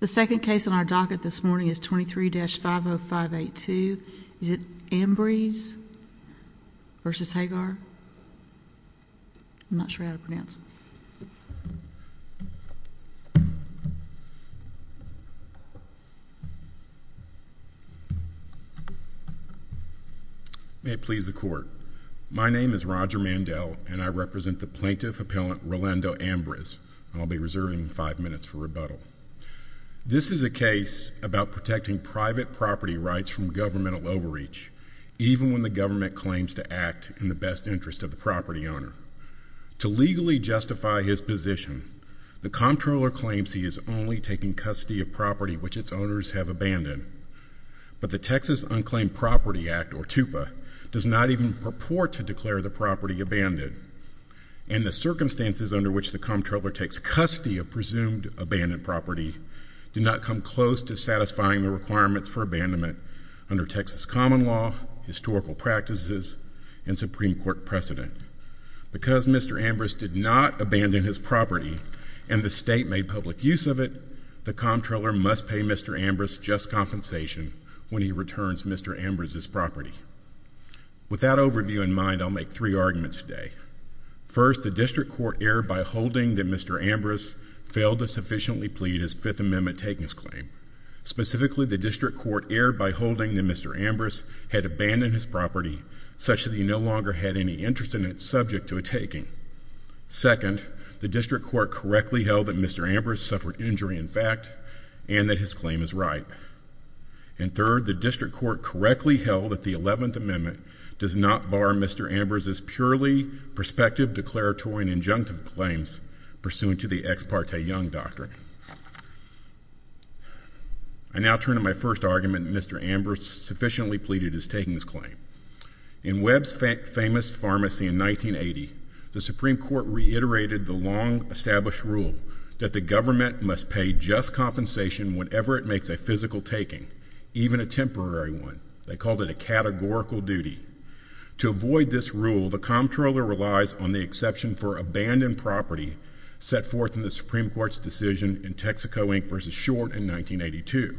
The second case on our docket this morning is 23-50582. Is it Ambriz v. Hegar? I'm not sure how to pronounce it. May it please the court. My name is Roger Mandel, and I represent the plaintiff-appellant Rolando Ambriz. I'll be reserving five minutes for rebuttal. This is a case about protecting private property rights from governmental overreach, even when the government claims to act in the best interest of the property owner. To legally justify his position, the comptroller claims he is only taking custody of property which its owners have abandoned. But the Texas Unclaimed Property Act, or TUPA, does not even purport to declare the property abandoned. In the circumstances under which the comptroller takes custody of property, do not come close to satisfying the requirements for abandonment under Texas common law, historical practices, and Supreme Court precedent. Because Mr. Ambriz did not abandon his property and the state made public use of it, the comptroller must pay Mr. Ambriz just compensation when he returns Mr. Ambriz's property. With that overview in mind, I'll make three arguments today. First, the district court erred by holding that Mr. Ambriz failed to sufficiently plead his Fifth Amendment takings claim. Specifically, the district court erred by holding that Mr. Ambriz had abandoned his property such that he no longer had any interest in it subject to a taking. Second, the district court correctly held that Mr. Ambriz suffered injury in fact, and that his claim is ripe. And third, the district court correctly held that the Eleventh Amendment does not bar Mr. Ambriz's purely prospective declaratory and injunctive claims pursuant to the Ex Parte Young Doctrine. I now turn to my first argument that Mr. Ambriz sufficiently pleaded his takings claim. In Webb's famous pharmacy in 1980, the Supreme Court reiterated the long established rule that the government must pay just compensation whenever it makes a physical taking, even a temporary one. They called it a categorical duty. To avoid this rule, the comptroller relies on the exception for abandoned property set forth in the Supreme Court's decision in Texaco, Inc. v. Short in 1982.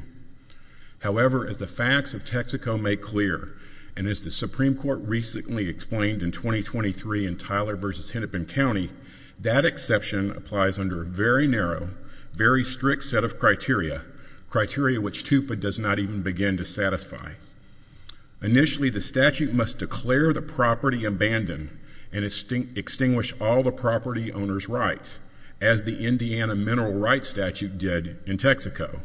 However, as the facts of Texaco make clear, and as the Supreme Court recently explained in 2023 in Tyler v. Hennepin County, that exception applies under a very narrow, very strict set of criteria, criteria which TUPA does not even begin to satisfy. Initially, the statute must declare the property abandoned and extinguish all the property owner's rights, as the Indiana mineral rights statute did in Texaco.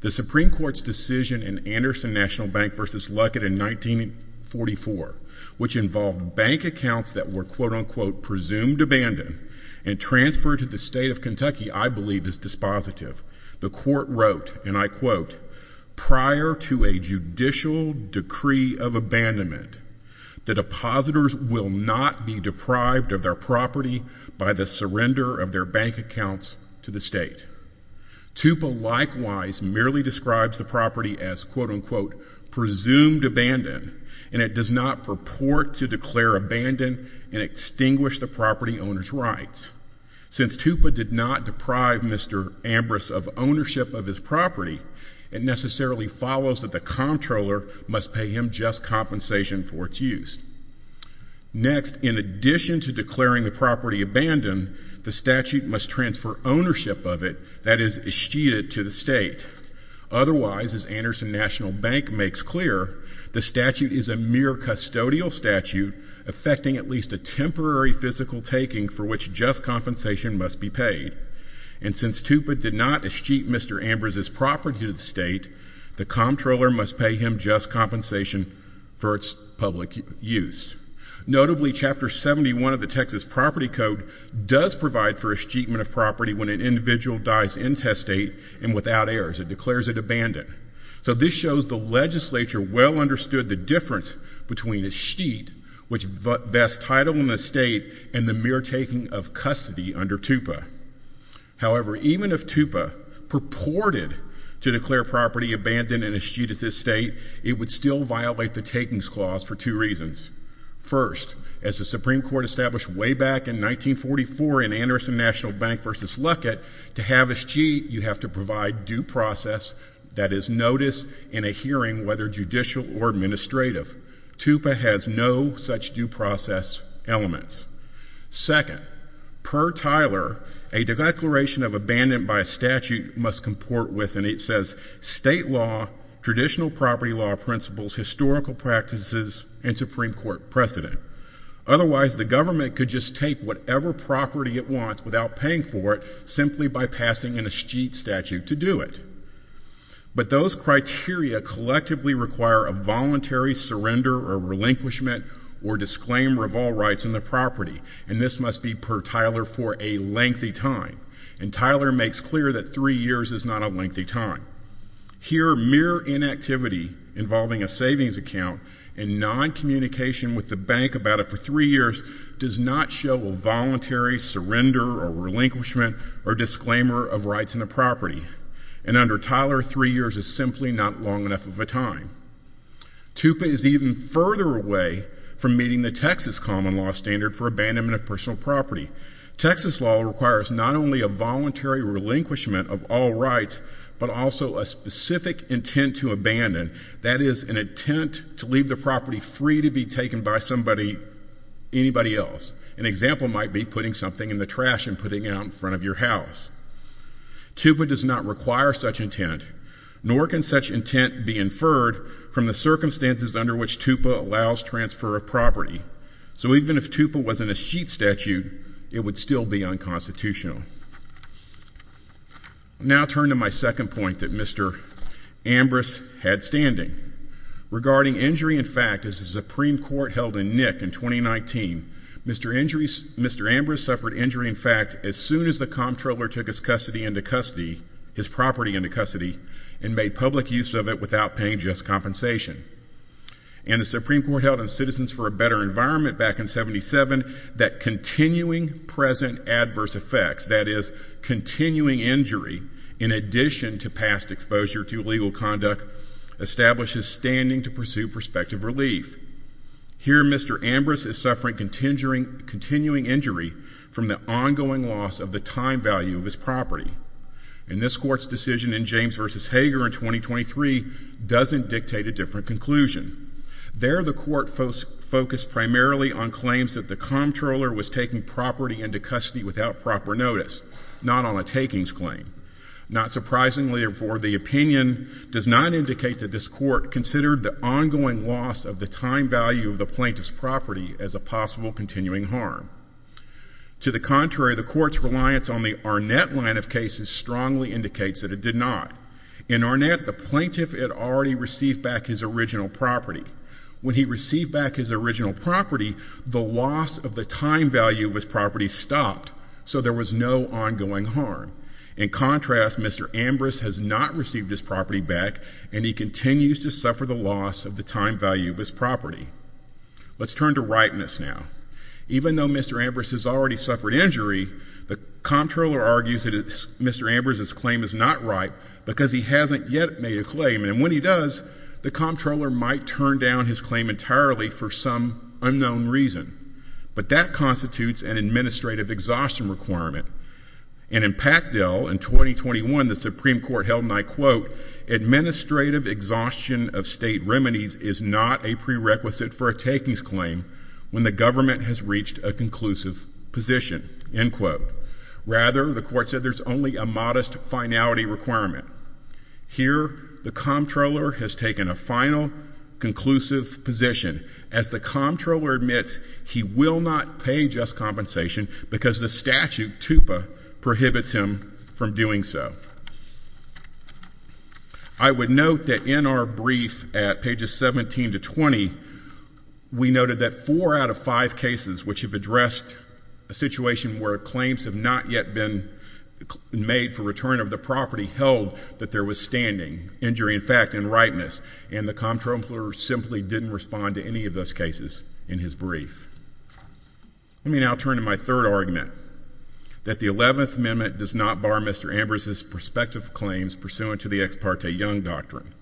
The Supreme Court's decision in Anderson National Bank v. Luckett in 1944, which involved bank accounts that were, quote unquote, presumed abandoned and transferred to the state of Kentucky, I believe is dispositive. The court wrote, and I quote, prior to a judicial decree of abandonment, the depositors will not be deprived of their property by the surrender of their bank accounts to the state. TUPA likewise merely describes the property as, quote unquote, presumed abandoned, and it does not purport to declare abandoned and extinguish the property owner's rights. Since TUPA did not deprive Mr. Ambrose of ownership of his property, it necessarily follows that the comptroller must pay him just compensation for its use. Next, in addition to declaring the property abandoned, the statute must transfer ownership of it that is exceded to the state. Otherwise, as Anderson National Bank makes clear, the statute is a mere custodial statute affecting at least a temporary physical taking for which just compensation must be paid. And since TUPA did not escheat Mr. Ambrose's property to the state, the comptroller must pay him just compensation for its public use. Notably, Chapter 71 of the Texas Property Code does provide for escheatment of property when an individual dies intestate and without heirs. It declares it abandoned. So this shows the legislature well understood the difference between escheat, which vests title in the state, and the mere taking of custody under TUPA. However, even if TUPA purported to declare property abandoned and escheat at this state, it would still violate the takings clause for two reasons. First, as the Supreme Court established way back in 1944 in Anderson National Bank versus Luckett, to have escheat, you have to provide due process, TUPA has no such due process elements. Second, per Tyler, a declaration of abandon by statute must comport with, and it says, state law, traditional property law principles, historical practices, and Supreme Court precedent. Otherwise, the government could just take whatever property it wants without paying for it, simply by passing an escheat statute to do it. But those criteria collectively require a voluntary surrender or relinquishment or disclaimer of all rights in the property, and this must be per Tyler for a lengthy time. And Tyler makes clear that three years is not a lengthy time. Here, mere inactivity involving a savings account and non-communication with the bank about it for three years does not show a voluntary surrender or relinquishment or disclaimer of rights in the property. And under Tyler, three years is simply not long enough of a time. TUPA is even further away from meeting the Texas common law standard for abandonment of personal property. Texas law requires not only a voluntary relinquishment of all rights, but also a specific intent to abandon. That is an intent to leave the property free to be taken by somebody, anybody else. An example might be putting something in the trash and putting it out in front of your house. TUPA does not require such intent, nor can such intent be inferred from the circumstances under which TUPA allows transfer of property. So even if TUPA was an escheat statute, it would still be unconstitutional. Now turn to my second point that Mr. Ambrose had standing. Regarding injury in fact, as the Supreme Court held in Nick in 2019, Mr. Ambrose suffered injury in fact as soon as the comptroller took his custody, into custody, his property into custody, and made public use of it without paying just compensation. And the Supreme Court held in Citizens for a Better Environment back in 77, that continuing present adverse effects, that is continuing injury, in addition to past exposure to illegal conduct, establishes standing to pursue prospective relief. Here, Mr. Ambrose is suffering continuing injury from the ongoing loss of the time value of his property. And this court's decision in James v. Hager in 2023 doesn't dictate a different conclusion. There, the court focused primarily on claims that the comptroller was taking property into custody without proper notice, not on a takings claim. Not surprisingly, therefore, the opinion does not indicate that this court considered the ongoing loss of the time value of the plaintiff's property as a possible continuing harm. To the contrary, the court's reliance on the Arnett line of cases strongly indicates that it did not. In Arnett, the plaintiff had already received back his original property. When he received back his original property, the loss of the time value of his property stopped, so there was no ongoing harm. In contrast, Mr. Ambrose has not received his property back, and he continues to suffer the loss of the time value of his property. Let's turn to ripeness now. Even though Mr. Ambrose has already suffered injury, the comptroller argues that Mr. Ambrose's claim is not ripe, because he hasn't yet made a claim. And when he does, the comptroller might turn down his claim entirely for some unknown reason. But that constitutes an administrative exhaustion requirement. And in Pactel in 2021, the Supreme Court held, and I quote, administrative exhaustion of state remedies is not a prerequisite for a takings claim when the government has reached a conclusive position, end quote. Rather, the court said there's only a modest finality requirement. Here, the comptroller has taken a final conclusive position, as the comptroller admits he will not pay just compensation, because the statute, TUPA, prohibits him from doing so. I would note that in our brief at pages 17 to 20, we noted that four out of five cases which have addressed a situation where claims have not yet been made for return of the property held that there was standing, injury in fact, and ripeness. And the comptroller simply didn't respond to any of those cases in his brief. Let me now turn to my third argument, that the 11th Amendment does not bar Mr. claims pursuant to the ex parte Young Doctrine.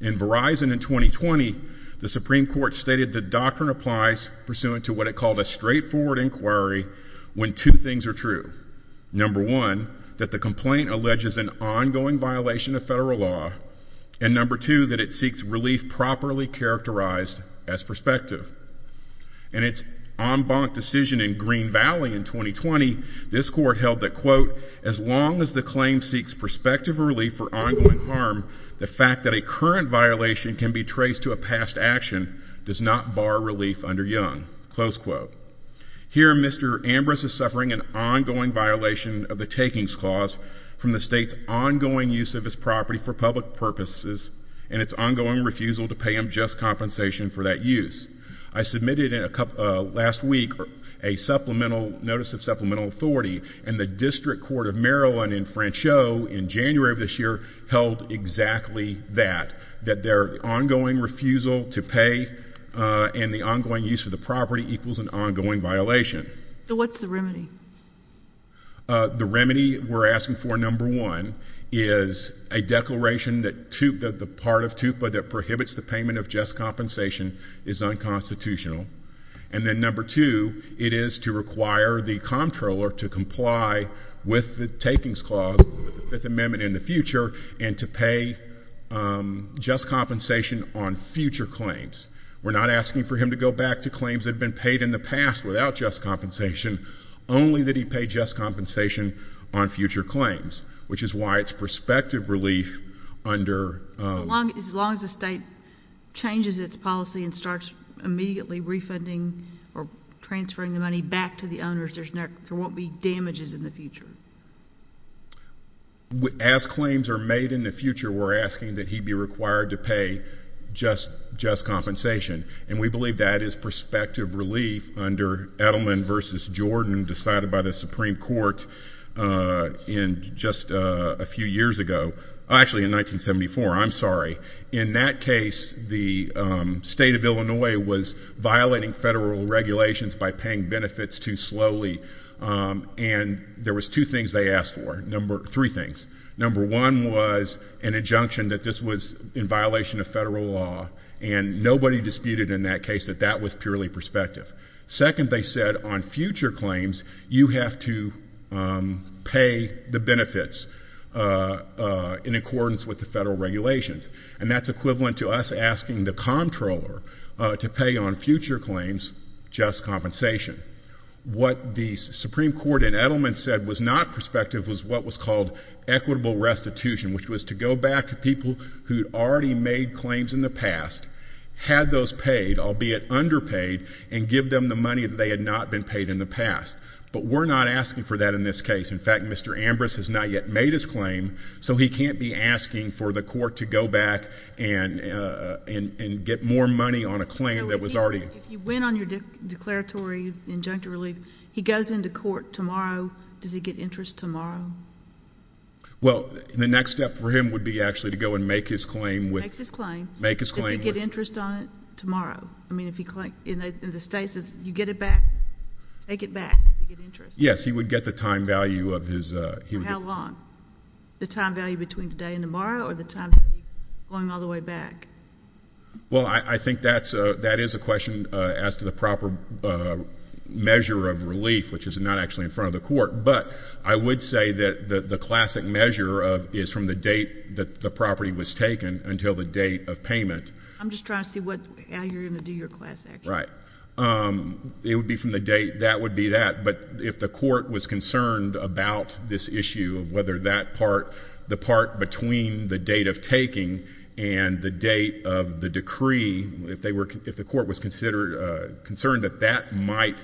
In Verizon in 2020, the Supreme Court stated the doctrine applies pursuant to what it called a straightforward inquiry when two things are true. Number one, that the complaint alleges an ongoing violation of federal law, and number two, that it seeks relief properly characterized as prospective. In its en banc decision in Green Valley in 2020, this court held that, quote, as long as the claim seeks perspective or relief for ongoing harm, the fact that a current violation can be traced to a past action, does not bar relief under Young, close quote. Here, Mr. Ambrose is suffering an ongoing violation of the takings clause from the state's ongoing use of his property for public purposes, and its ongoing refusal to pay him just compensation for that use. I submitted last week a supplemental notice of supplemental authority, and the District Court of Maryland in Franceau, in January of this year, held exactly that, that their ongoing refusal to pay and the ongoing use of the property equals an ongoing violation. So what's the remedy? The remedy we're asking for, number one, is a declaration that the part of TUPA that prohibits the payment of just compensation is unconstitutional. And then number two, it is to require the comptroller to comply with the takings clause, with the Fifth Amendment in the future, and to pay just compensation on future claims. We're not asking for him to go back to claims that have been paid in the past without just compensation, only that he pay just compensation on future claims, which is why it's prospective relief under- As long as the state changes its policy and starts immediately refunding or transferring the money back to the owners, there won't be damages in the future. As claims are made in the future, we're asking that he be required to pay just compensation. And we believe that is prospective relief under Edelman versus Jordan, decided by the Supreme Court just a few years ago. Actually, in 1974, I'm sorry. In that case, the state of Illinois was violating federal regulations by paying benefits too slowly. And there was two things they asked for, three things. Number one was an injunction that this was in violation of federal law. And nobody disputed in that case that that was purely prospective. Second, they said on future claims, you have to pay the benefits. In accordance with the federal regulations. And that's equivalent to us asking the comptroller to pay on future claims just compensation. What the Supreme Court in Edelman said was not prospective was what was called equitable restitution, which was to go back to people who had already made claims in the past, had those paid, albeit underpaid, and give them the money that they had not been paid in the past. But we're not asking for that in this case. In fact, Mr. Ambrose has not yet made his claim, so he can't be asking for the court to go back and get more money on a claim that was already- If you win on your declaratory injunctive relief, he goes into court tomorrow. Does he get interest tomorrow? Well, the next step for him would be actually to go and make his claim with- Make his claim. Make his claim with- Does he get interest on it tomorrow? I mean, if he claims, in the state says, you get it back, take it back, you get interest. Yes, he would get the time value of his- For how long? The time value between today and tomorrow, or the time value going all the way back? Well, I think that is a question as to the proper measure of relief, which is not actually in front of the court, but I would say that the classic measure is from the date that the property was taken until the date of payment. I'm just trying to see how you're going to do your class, actually. Right, it would be from the date, that would be that. But if the court was concerned about this issue of whether that part, the part between the date of taking and the date of the decree, if the court was concerned that that might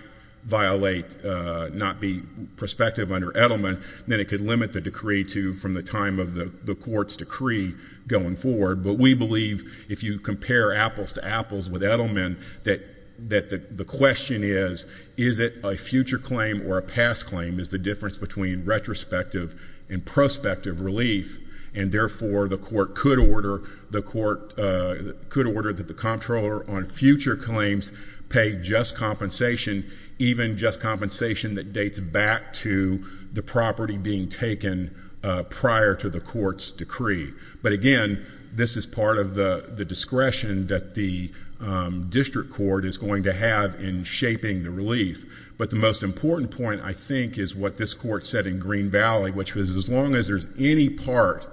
violate, not be prospective under Edelman, then it could limit the decree to from the time of the court's decree going forward. But we believe if you compare apples to apples with Edelman, that the question is, is it a future claim or a past claim, is the difference between retrospective and prospective relief. And therefore, the court could order that the comptroller on future claims pay just compensation, even just compensation that dates back to the property being taken prior to the court's decree. But again, this is part of the discretion that the district court is going to have in shaping the relief. But the most important point, I think, is what this court said in Green Valley, which was as long as there's any part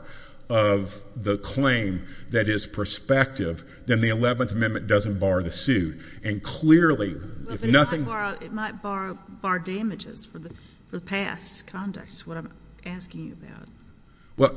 of the claim that is prospective, then the 11th Amendment doesn't bar the suit. And clearly, if nothing- It might bar damages for the past conduct, is what I'm asking you about. Well,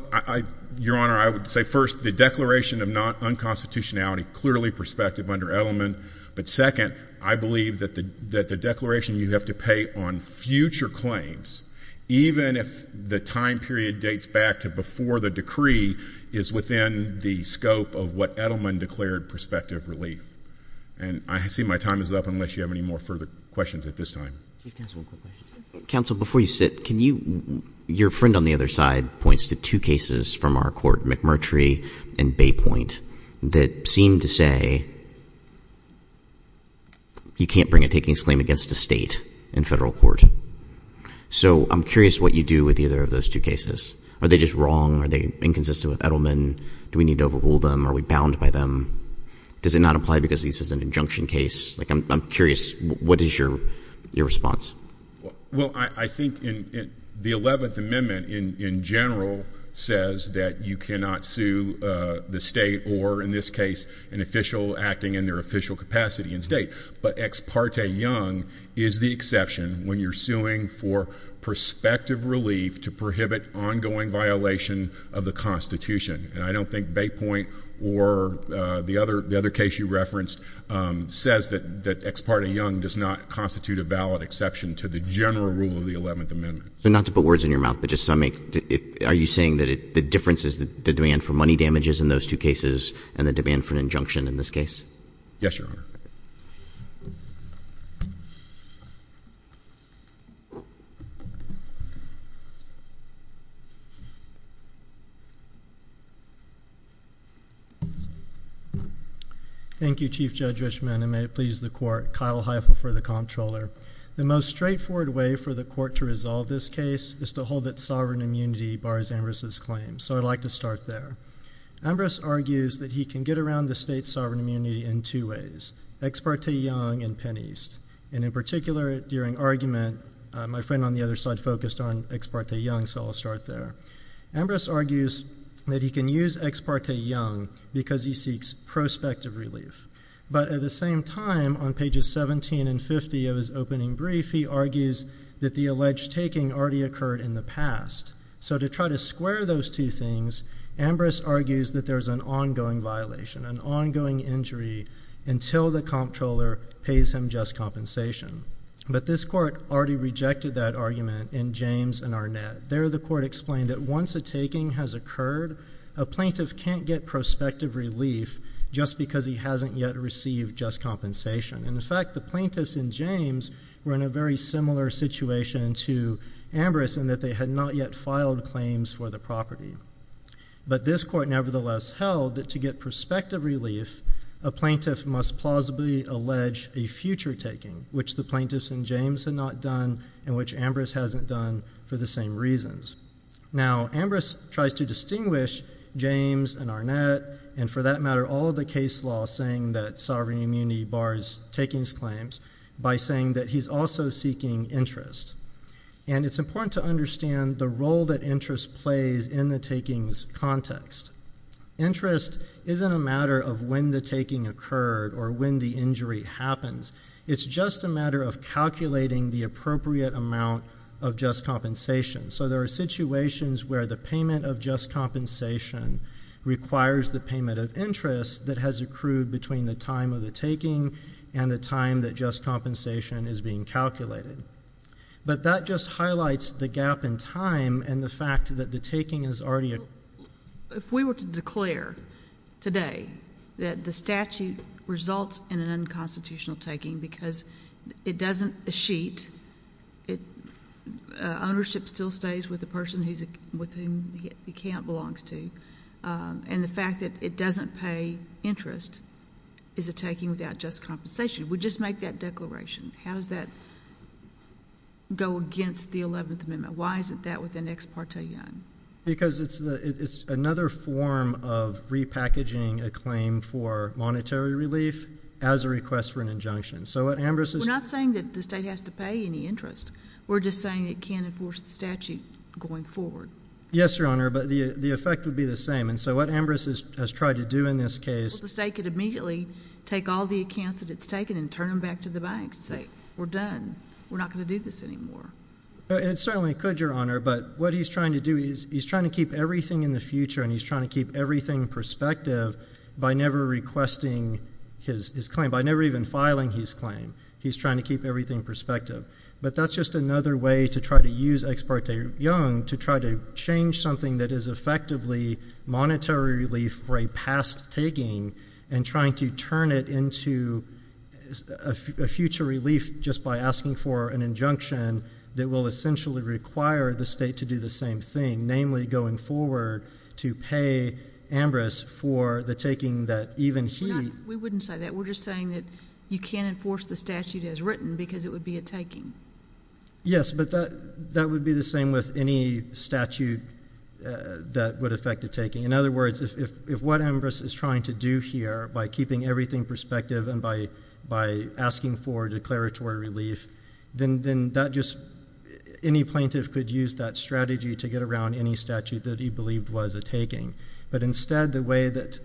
Your Honor, I would say first, the declaration of non-unconstitutionality, clearly prospective under Edelman. But second, I believe that the declaration you have to pay on future claims, even if the time period dates back to before the decree, is within the scope of what Edelman declared prospective relief. And I see my time is up, unless you have any more further questions at this time. Chief Counsel, one quick question. Counsel, before you sit, can you, your friend on the other side points to two cases from our court, McMurtry and Baypoint, that seem to say you can't bring a takings claim against a state in federal court. So I'm curious what you do with either of those two cases. Are they just wrong? Are they inconsistent with Edelman? Do we need to overrule them? Are we bound by them? Does it not apply because this is an injunction case? I'm curious, what is your response? Well, I think the 11th Amendment, in general, says that you cannot sue the state or, in this case, an official acting in their official capacity in state. But Ex parte Young is the exception when you're suing for prospective relief to prohibit ongoing violation of the Constitution. And I don't think Baypoint or the other case you referenced says that Ex parte Young does not constitute a valid exception to the general rule of the 11th Amendment. So not to put words in your mouth, but just to make, are you saying that the difference is the demand for money damages in those two cases and the demand for an injunction in this case? Yes, your honor. Thank you, Chief Judge Richman, and may it please the court, Kyle Heifel for the comptroller. The most straightforward way for the court to resolve this case is to hold that sovereign immunity bars Ambrose's claim. So I'd like to start there. Ambrose argues that he can get around the state's sovereign immunity in two ways, Ex parte Young and Penn East. And in particular, during argument, my friend on the other side focused on Ex parte Young, so I'll start there. Ambrose argues that he can use Ex parte Young because he seeks prospective relief. But at the same time, on pages 17 and 50 of his opening brief, he argues that the alleged taking already occurred in the past. So to try to square those two things, Ambrose argues that there's an ongoing violation, an ongoing injury until the comptroller pays him just compensation. But this court already rejected that argument in James and Arnett. There, the court explained that once a taking has occurred, a plaintiff can't get prospective relief just because he hasn't yet received just compensation. And in fact, the plaintiffs in James were in a very similar situation to Ambrose, in that they had not yet filed claims for the property. But this court nevertheless held that to get prospective relief, a plaintiff must plausibly allege a future taking, which the plaintiffs in James had not done, and which Ambrose hasn't done for the same reasons. Now, Ambrose tries to distinguish James and Arnett, and for that matter, all the case law saying that sovereign immunity bars takings claims, by saying that he's also seeking interest. And it's important to understand the role that interest plays in the takings context. Interest isn't a matter of when the taking occurred or when the injury happens. It's just a matter of calculating the appropriate amount of just compensation. So there are situations where the payment of just compensation requires the payment of interest that has accrued between the time of the taking and the time that just compensation is being calculated. But that just highlights the gap in time and the fact that the taking is already. If we were to declare today that the statute results in an unconstitutional taking because it doesn't sheet. Ownership still stays with the person with whom the account belongs to. And the fact that it doesn't pay interest is a taking without just compensation. We just make that declaration. How does that go against the 11th Amendment? Why is it that with the next partition? Because it's another form of repackaging a claim for monetary relief as a request for an injunction. So what Ambrose is- We're not saying that the state has to pay any interest. We're just saying it can't enforce the statute going forward. Yes, Your Honor, but the effect would be the same. And so what Ambrose has tried to do in this case- The state could immediately take all the accounts that it's taken and turn them back to the banks and say, We're done. We're not going to do this anymore. It certainly could, Your Honor. But what he's trying to do is he's trying to keep everything in the future and he's trying to keep everything in perspective by never requesting his claim, by never even filing his claim. He's trying to keep everything in perspective. But that's just another way to try to use Ex parte Young to try to change something that is effectively monetary relief for a past taking and trying to turn it into a future relief just by asking for an injunction that will essentially require the state to do the same thing, namely going forward to pay Ambrose for the taking that even he- We wouldn't say that. We're just saying that you can't enforce the statute as written because it would be a taking. Yes, but that would be the same with any statute that would affect a taking. In other words, if what Ambrose is trying to do here by keeping everything perspective and by asking for declaratory relief, then that just- any plaintiff could use that strategy to get around any statute that he believed was a taking. But instead, the way that-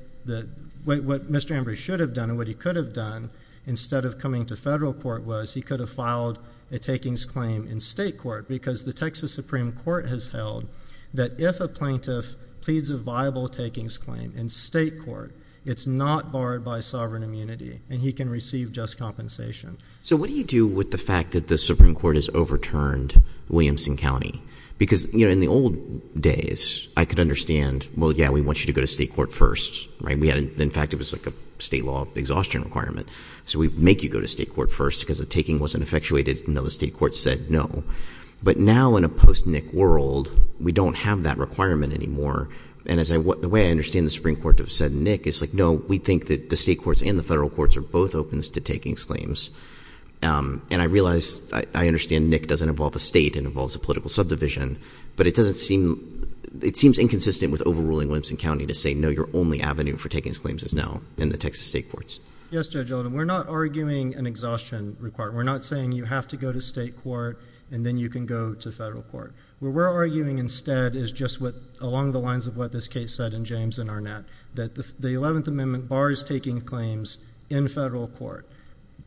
what Mr. Ambrose should have done and what he could have done instead of coming to federal court was he could have filed a takings claim in state court because the Texas Supreme Court has held that if a plaintiff pleads a viable takings claim in state court, it's not barred by sovereign immunity and he can receive just compensation. So what do you do with the fact that the Supreme Court has overturned Williamson County? Because in the old days, I could understand, well, yeah, we want you to go to state court first, right? In fact, it was like a state law exhaustion requirement. So we make you go to state court first because the taking wasn't effectuated until the state court said no. But now in a post-Nick world, we don't have that requirement anymore. And the way I understand the Supreme Court to have said Nick is like, no, we think that the state courts and the federal courts are both open to takings claims. And I realize, I understand Nick doesn't involve a state, it involves a political subdivision. But it seems inconsistent with overruling Williamson County to say no, your only avenue for takings claims is now in the Texas state courts. Yes, Judge Oldham, we're not arguing an exhaustion requirement. We're not saying you have to go to state court and then you can go to federal court. What we're arguing instead is just along the lines of what this case said in James and Arnett. That the 11th Amendment bars taking claims in federal court.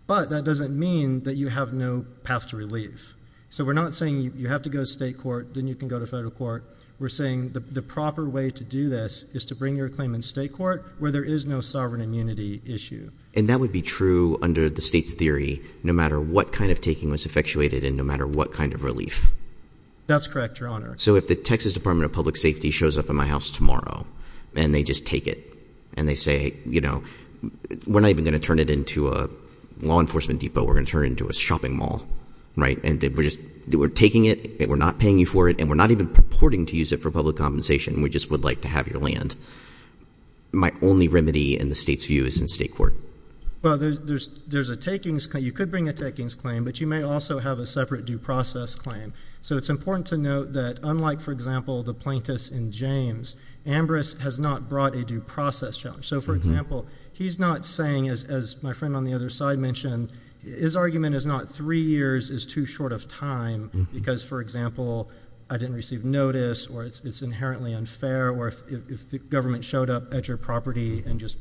But that doesn't mean that you have no path to relief. So we're not saying you have to go to state court, then you can go to federal court. We're saying the proper way to do this is to bring your claim in state court where there is no sovereign immunity issue. And that would be true under the state's theory, no matter what kind of taking was effectuated and no matter what kind of relief. That's correct, your honor. So if the Texas Department of Public Safety shows up at my house tomorrow and they just take it. And they say, we're not even going to turn it into a law enforcement depot, we're going to turn it into a shopping mall, right? And we're taking it, we're not paying you for it, and we're not even purporting to use it for public compensation. We just would like to have your land. My only remedy in the state's view is in state court. Well, you could bring a takings claim, but you may also have a separate due process claim. So it's important to note that unlike, for example, the plaintiffs in James, Ambrose has not brought a due process challenge. So for example, he's not saying, as my friend on the other side mentioned, his argument is not three years is too short of time because, for example, I didn't receive notice or it's inherently unfair or if the government showed up at your property and just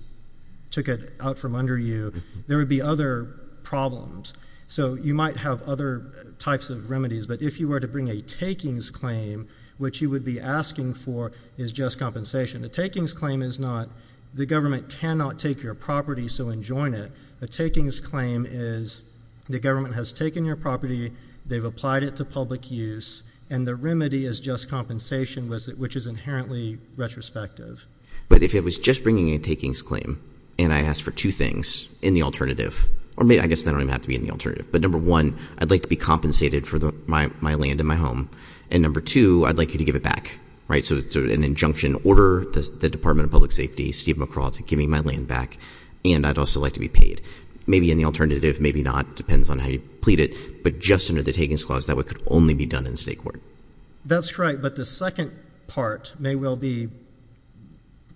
took it out from under you, there would be other problems. So you might have other types of remedies, but if you were to bring a takings claim, what you would be asking for is just compensation. A takings claim is not, the government cannot take your property, so enjoin it. A takings claim is, the government has taken your property, they've applied it to public use, and the remedy is just compensation, which is inherently retrospective. But if it was just bringing a takings claim and I asked for two things in the alternative, or I guess I don't even have to be in the alternative, but number one, I'd like to be compensated for my land and my home. And number two, I'd like you to give it back, right? So it's an injunction, order the Department of Public Safety, Steve McCraw, to give me my land back, and I'd also like to be paid. Maybe in the alternative, maybe not, depends on how you plead it, but just under the takings clause, that could only be done in state court. That's correct, but the second part may well be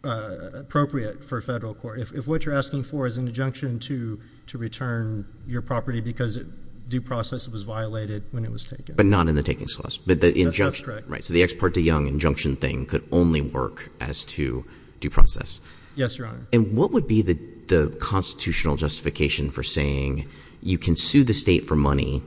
appropriate for federal court. If what you're asking for is an injunction to return your property because due process was violated when it was taken. But not in the takings clause, but the injunction, right, so the ex parte young injunction thing could only work as to due process. Yes, your honor. And what would be the constitutional justification for saying you can sue the state for money,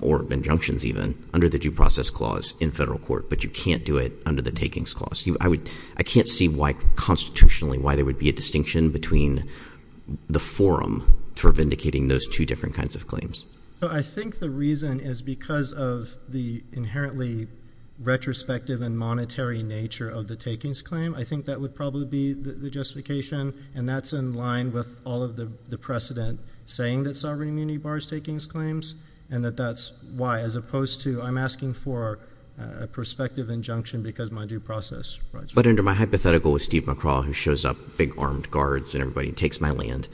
or injunctions even, under the due process clause in federal court, but you can't do it under the takings clause? I can't see why constitutionally, why there would be a distinction between the forum for vindicating those two different kinds of claims. So I think the reason is because of the inherently retrospective and monetary nature of the takings claim, I think that would probably be the justification. And that's in line with all of the precedent saying that sovereign immunity bars takings claims. And that that's why, as opposed to, I'm asking for a prospective injunction because my due process. But under my hypothetical with Steve McCraw, who shows up, big armed guards, and everybody takes my land.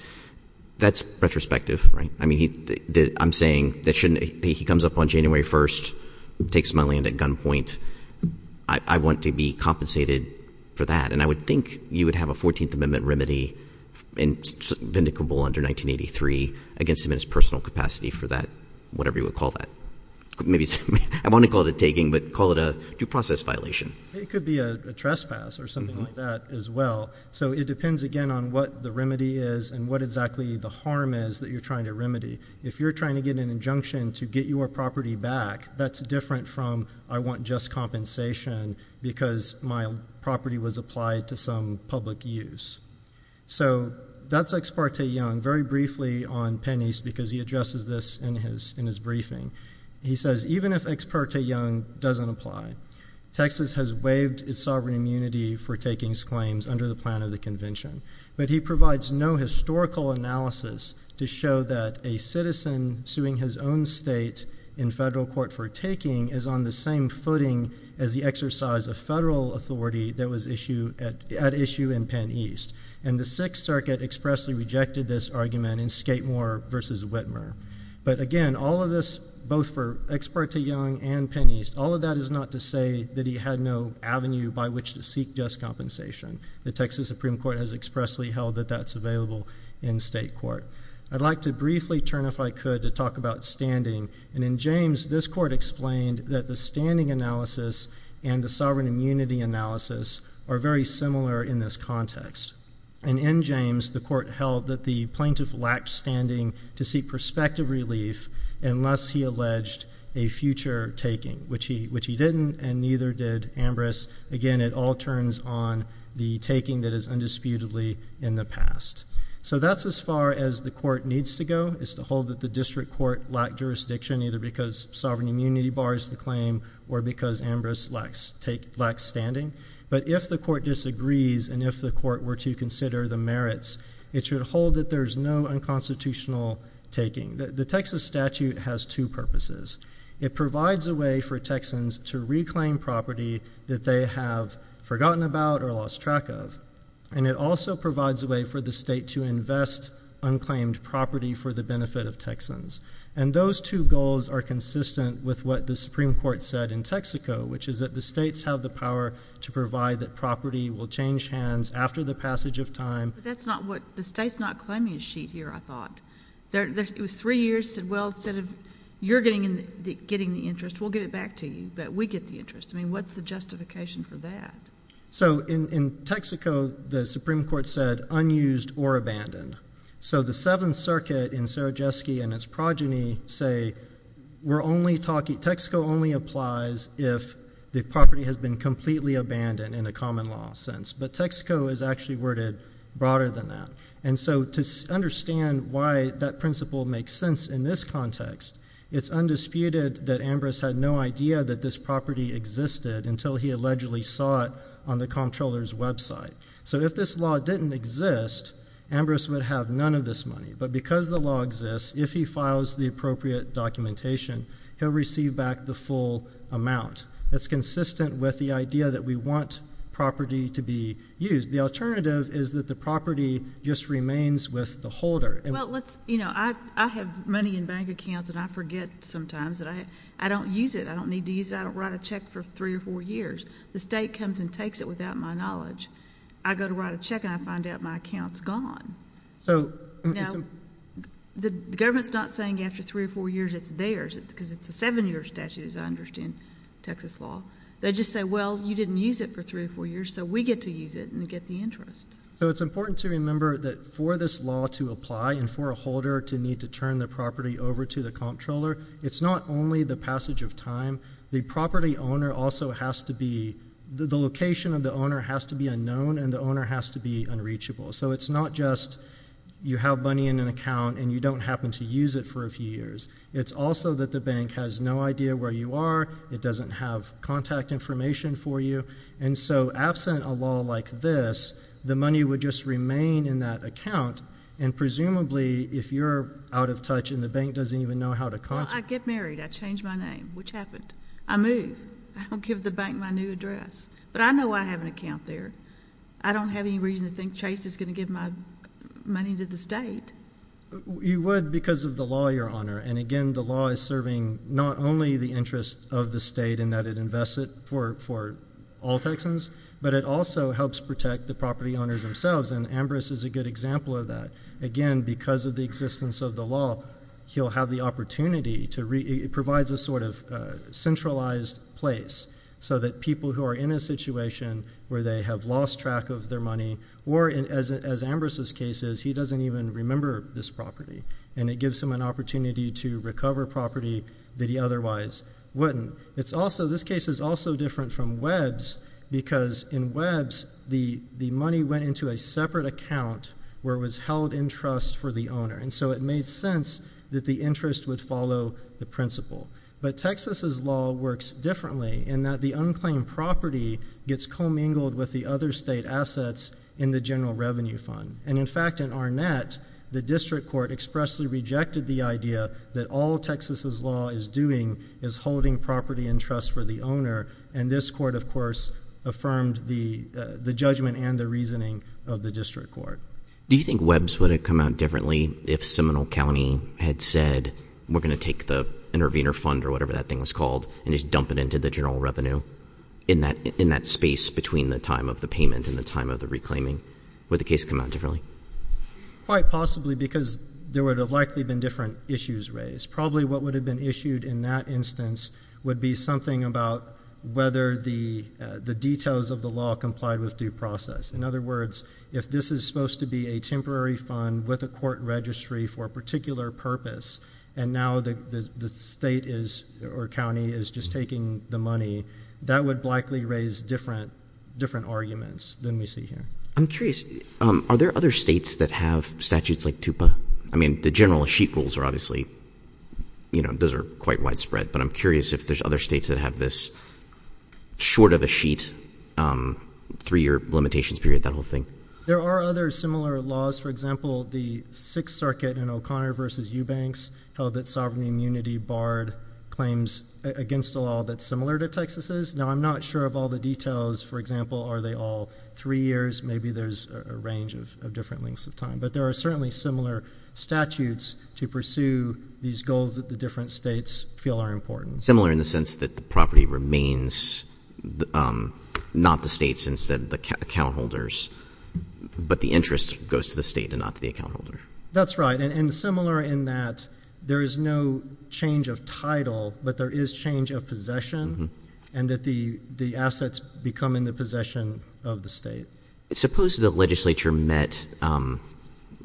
That's retrospective, right? I mean, I'm saying that he comes up on January 1st, takes my land at gunpoint. I want to be compensated for that. And I would think you would have a 14th Amendment remedy vindicable under 1983 against him in his personal capacity for that, whatever you would call that. I want to call it a taking, but call it a due process violation. It could be a trespass or something like that as well. So it depends again on what the remedy is and what exactly the harm is that you're trying to remedy. If you're trying to get an injunction to get your property back, that's different from, I want just compensation because my property was applied to some public use. So that's Ex parte Young, very briefly on Penney's, because he addresses this in his briefing. He says, even if Ex parte Young doesn't apply, Texas has waived its sovereign immunity for the plan of the convention, but he provides no historical analysis to show that a citizen suing his own state in federal court for taking is on the same footing as the exercise of federal authority that was at issue in Penn East. And the Sixth Circuit expressly rejected this argument in Skatemore versus Whitmer. But again, all of this, both for Ex parte Young and Penn East, all of that is not to say that he had no avenue by which to seek just compensation. The Texas Supreme Court has expressly held that that's available in state court. I'd like to briefly turn, if I could, to talk about standing. And in James, this court explained that the standing analysis and the sovereign immunity analysis are very similar in this context. And in James, the court held that the plaintiff lacked standing to seek prospective relief, unless he alleged a future taking, which he didn't, and neither did Ambrose. Again, it all turns on the taking that is undisputably in the past. So that's as far as the court needs to go, is to hold that the district court lacked jurisdiction, either because sovereign immunity bars the claim or because Ambrose lacks standing. But if the court disagrees and if the court were to consider the merits, it should hold that there's no unconstitutional taking. The Texas statute has two purposes. It provides a way for Texans to reclaim property that they have forgotten about or lost track of. And it also provides a way for the state to invest unclaimed property for the benefit of Texans. And those two goals are consistent with what the Supreme Court said in Texaco, which is that the states have the power to provide that property will change hands after the passage of time. But that's not what, the state's not claiming a sheet here, I thought. It was three years, said well, instead of you're getting the interest, we'll get it back to you, but we get the interest. I mean, what's the justification for that? So in Texaco, the Supreme Court said unused or abandoned. So the Seventh Circuit in Sarajewski and its progeny say, Texaco only applies if the property has been completely abandoned in a common law sense, but Texaco is actually worded broader than that. And so to understand why that principle makes sense in this context, it's undisputed that Ambrose had no idea that this property existed until he allegedly saw it on the comptroller's website. So if this law didn't exist, Ambrose would have none of this money. But because the law exists, if he files the appropriate documentation, he'll receive back the full amount. That's consistent with the idea that we want property to be used. The alternative is that the property just remains with the holder. Well, I have money in bank accounts, and I forget sometimes that I don't use it. I don't need to use it. I don't write a check for three or four years. The state comes and takes it without my knowledge. I go to write a check, and I find out my account's gone. So the government's not saying after three or four years it's theirs, because it's a seven-year statute, as I understand Texas law. They just say, well, you didn't use it for three or four years, so we get to use it and get the interest. So it's important to remember that for this law to apply and for a holder to need to turn the property over to the comptroller, it's not only the passage of time, the property owner also has to be, the location of the owner has to be unknown, and the owner has to be unreachable. So it's not just you have money in an account and you don't happen to use it for a few years. It's also that the bank has no idea where you are. It doesn't have contact information for you. And so, absent a law like this, the money would just remain in that account. And presumably, if you're out of touch and the bank doesn't even know how to contact- I get married, I change my name, which happened. I move, I don't give the bank my new address. But I know I have an account there. I don't have any reason to think Chase is going to give my money to the state. You would because of the law, Your Honor. And again, the law is serving not only the interest of the state in that it invests it for all Texans, but it also helps protect the property owners themselves. And Ambrose is a good example of that. Again, because of the existence of the law, he'll have the opportunity to, it provides a sort of centralized place so that people who are in a situation where they have lost track of their money, or as Ambrose's case is, he doesn't even remember this property. And it gives him an opportunity to recover property that he otherwise wouldn't. It's also, this case is also different from Webb's because in Webb's, the money went into a separate account where it was held in trust for the owner. And so it made sense that the interest would follow the principle. But Texas's law works differently in that the unclaimed property gets commingled with the other state assets in the general revenue fund. And in fact, in Arnett, the district court expressly rejected the idea that all Texas's law is doing is holding property in trust for the owner. And this court, of course, affirmed the judgment and the reasoning of the district court. Do you think Webb's would have come out differently if Seminole County had said, we're gonna take the intervener fund or whatever that thing was called and just dump it into the general revenue in that space between the time of the payment and the time of the reclaiming, would the case come out differently? Quite possibly, because there would have likely been different issues raised. Probably what would have been issued in that instance would be something about whether the details of the law complied with due process. In other words, if this is supposed to be a temporary fund with a court registry for a particular purpose, and now the state or county is just taking the money, that would likely raise different arguments than we see here. I'm curious, are there other states that have statutes like TUPA? I mean, the general sheet rules are obviously, those are quite widespread, but I'm curious if there's other states that have this short of a sheet, three year limitations period, that whole thing. There are other similar laws. For example, the Sixth Circuit in O'Connor versus Eubanks held that sovereign immunity barred claims against a law that's similar to Texas's. Now, I'm not sure of all the details. For example, are they all three years? Maybe there's a range of different lengths of time, but there are certainly similar statutes to pursue these goals that the different states feel are important. Similar in the sense that the property remains not the state's, instead the account holders, but the interest goes to the state and not the account holder. That's right, and similar in that there is no change of title, but that there is change of possession, and that the assets become in the possession of the state. Suppose the legislature met,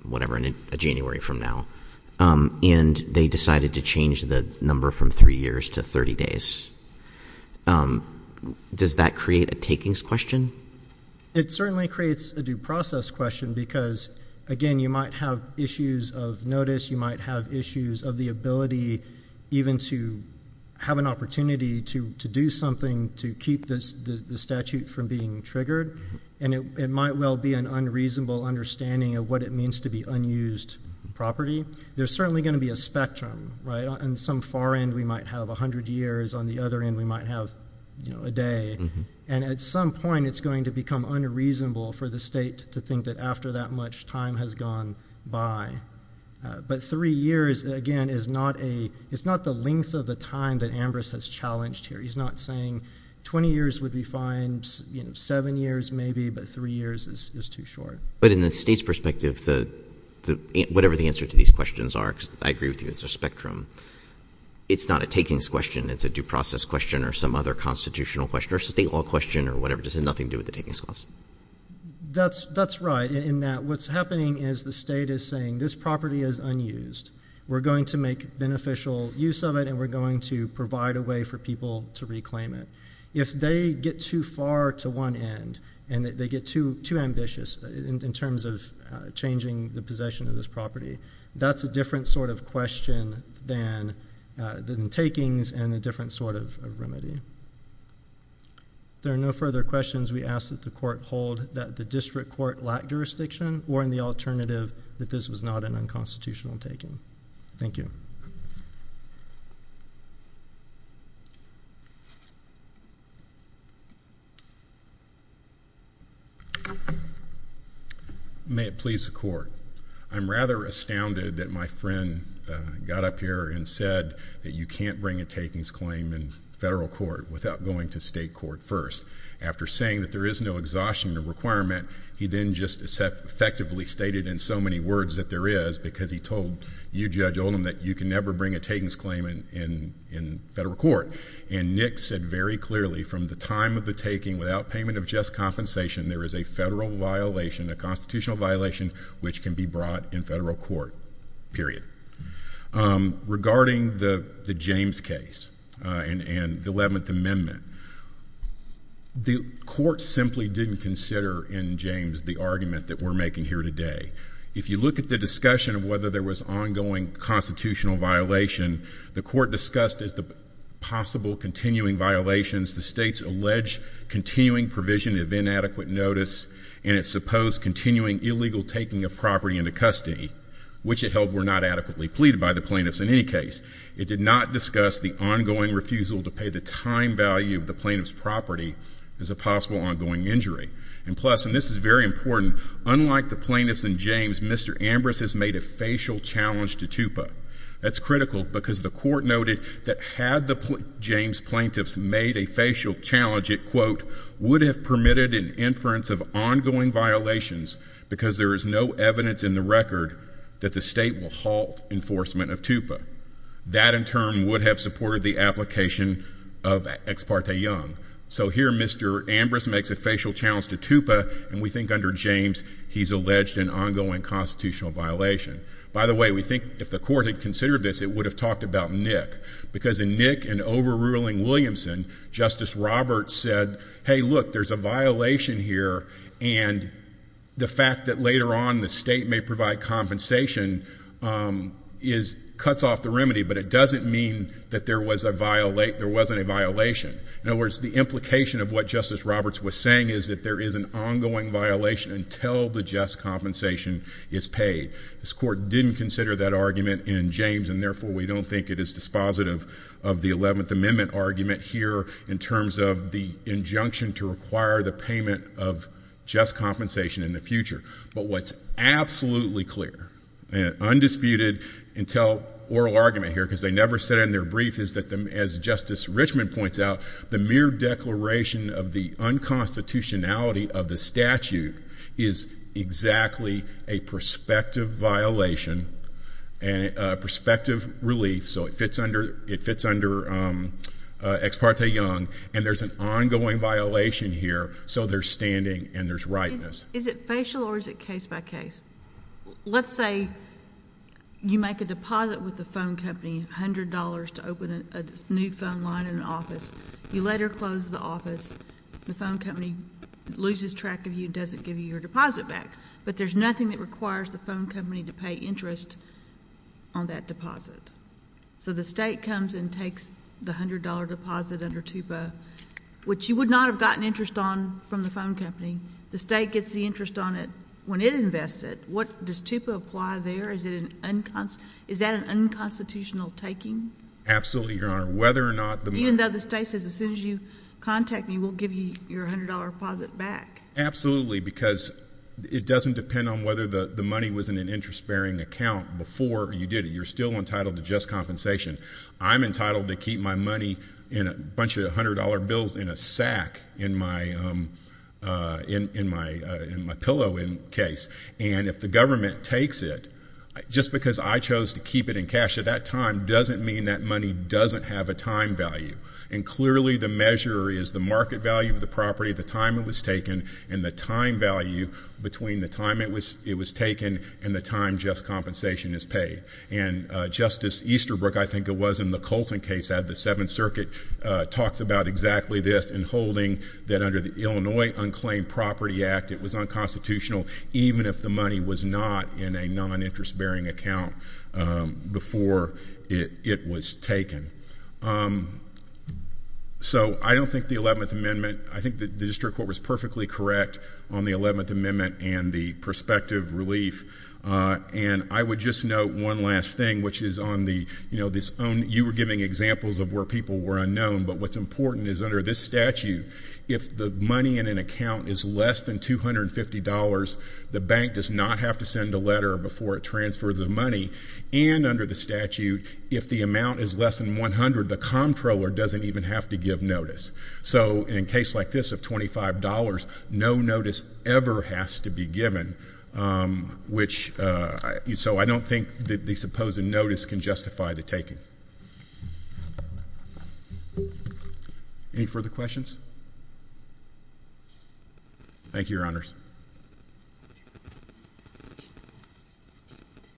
whatever, in January from now, and they decided to change the number from three years to 30 days. Does that create a takings question? It certainly creates a due process question because, again, you might have issues of notice. You might have issues of the ability even to have an opportunity to do something to keep the statute from being triggered. And it might well be an unreasonable understanding of what it means to be unused property. There's certainly going to be a spectrum, right? On some far end, we might have 100 years. On the other end, we might have a day. And at some point, it's going to become unreasonable for the state to think that after that much time has gone by. But three years, again, is not the length of the time that Ambrose has challenged here. He's not saying 20 years would be fine, seven years maybe, but three years is too short. But in the state's perspective, whatever the answer to these questions are, because I agree with you, it's a spectrum. It's not a takings question. It's a due process question or some other constitutional question or state law question or whatever. It has nothing to do with the takings clause. That's right, in that what's happening is the state is saying, this property is unused. We're going to make beneficial use of it, and we're going to provide a way for people to reclaim it. If they get too far to one end, and they get too ambitious in terms of changing the possession of this property, that's a different sort of question than takings and a different sort of remedy. There are no further questions we ask that the court hold that the district court lacked jurisdiction or in the alternative, that this was not an unconstitutional taking. Thank you. May it please the court. I'm rather astounded that my friend got up here and said that you can't bring a takings claim in federal court without going to state court first. After saying that there is no exhaustion requirement, he then just effectively stated in so many words that there is, because he told you, Judge Oldham, that you can never bring a takings claim in federal court. And Nick said very clearly, from the time of the taking, without payment of just compensation, there is a federal violation, a constitutional violation, which can be brought in federal court, period. Regarding the James case and the 11th Amendment, the court simply didn't consider in James the argument that we're making here today. If you look at the discussion of whether there was ongoing constitutional violation, the court discussed as the possible continuing violations, the state's alleged continuing provision of inadequate notice and its supposed continuing illegal taking of property into custody, which it held were not adequately pleaded by the plaintiffs in any case. It did not discuss the ongoing refusal to pay the time value of the plaintiff's property as a possible ongoing injury. And plus, and this is very important, unlike the plaintiffs in James, Mr. Ambrose has made a facial challenge to Tupa. That's critical, because the court noted that had the James plaintiffs made a facial challenge, it quote, would have permitted an inference of ongoing violations, because there is no evidence in the record that the state will halt enforcement of Tupa. That in turn would have supported the application of Ex parte Young. So here, Mr. Ambrose makes a facial challenge to Tupa, and we think under James, he's alleged an ongoing constitutional violation. By the way, we think if the court had considered this, it would have talked about Nick. Because in Nick and overruling Williamson, Justice Roberts said, hey look, there's a violation here, and the fact that later on the state may provide compensation cuts off the remedy, but it doesn't mean that there wasn't a violation. In other words, the implication of what Justice Roberts was saying is that there is an ongoing violation until the just compensation is paid. This court didn't consider that argument in James, and therefore we don't think it is dispositive of the 11th Amendment argument here, in terms of the injunction to require the payment of just compensation in the future. But what's absolutely clear, and undisputed until oral argument here, because they never said it in their brief, is that as Justice Richmond points out, the mere declaration of the unconstitutionality of the statute is exactly a prospective violation and a prospective relief. So it fits under Ex parte Young, and there's an ongoing violation here, so there's standing and there's rightness. Is it facial or is it case by case? Let's say you make a deposit with the phone company, $100 to open a new phone line in an office. You let her close the office, the phone company loses track of you and doesn't give you your deposit back. But there's nothing that requires the phone company to pay interest on that deposit. So the state comes and takes the $100 deposit under TUPA, which you would not have gotten interest on from the phone company. The state gets the interest on it when it invests it. Does TUPA apply there? Absolutely, Your Honor. Whether or not the- Even though the state says as soon as you contact me, we'll give you your $100 deposit back. Absolutely, because it doesn't depend on whether the money was in an interest bearing account before you did it. You're still entitled to just compensation. I'm entitled to keep my money in a bunch of $100 bills in a sack in my pillow in case. And if the government takes it, just because I chose to keep it in cash at that time doesn't mean that money doesn't have a time value. And clearly, the measure is the market value of the property, the time it was taken, and the time value between the time it was taken and the time just compensation is paid. And Justice Easterbrook, I think it was, in the Colton case out of the Seventh Circuit, talks about exactly this in holding that under the Illinois Unclaimed Property Act, it was unconstitutional even if the money was not in a non-interest bearing account before it was taken. So I don't think the 11th Amendment, I think the district court was perfectly correct on the 11th Amendment and the prospective relief. And I would just note one last thing, which is on the, you were giving examples of where people were unknown. But what's important is under this statute, if the money in an account is less than $250, the bank does not have to send a letter before it transfers the money. And under the statute, if the amount is less than 100, the comptroller doesn't even have to give notice. So in a case like this of $25, no notice ever has to be given. Which, so I don't think that the supposed notice can justify the taking. Any further questions? Thank you, your honors.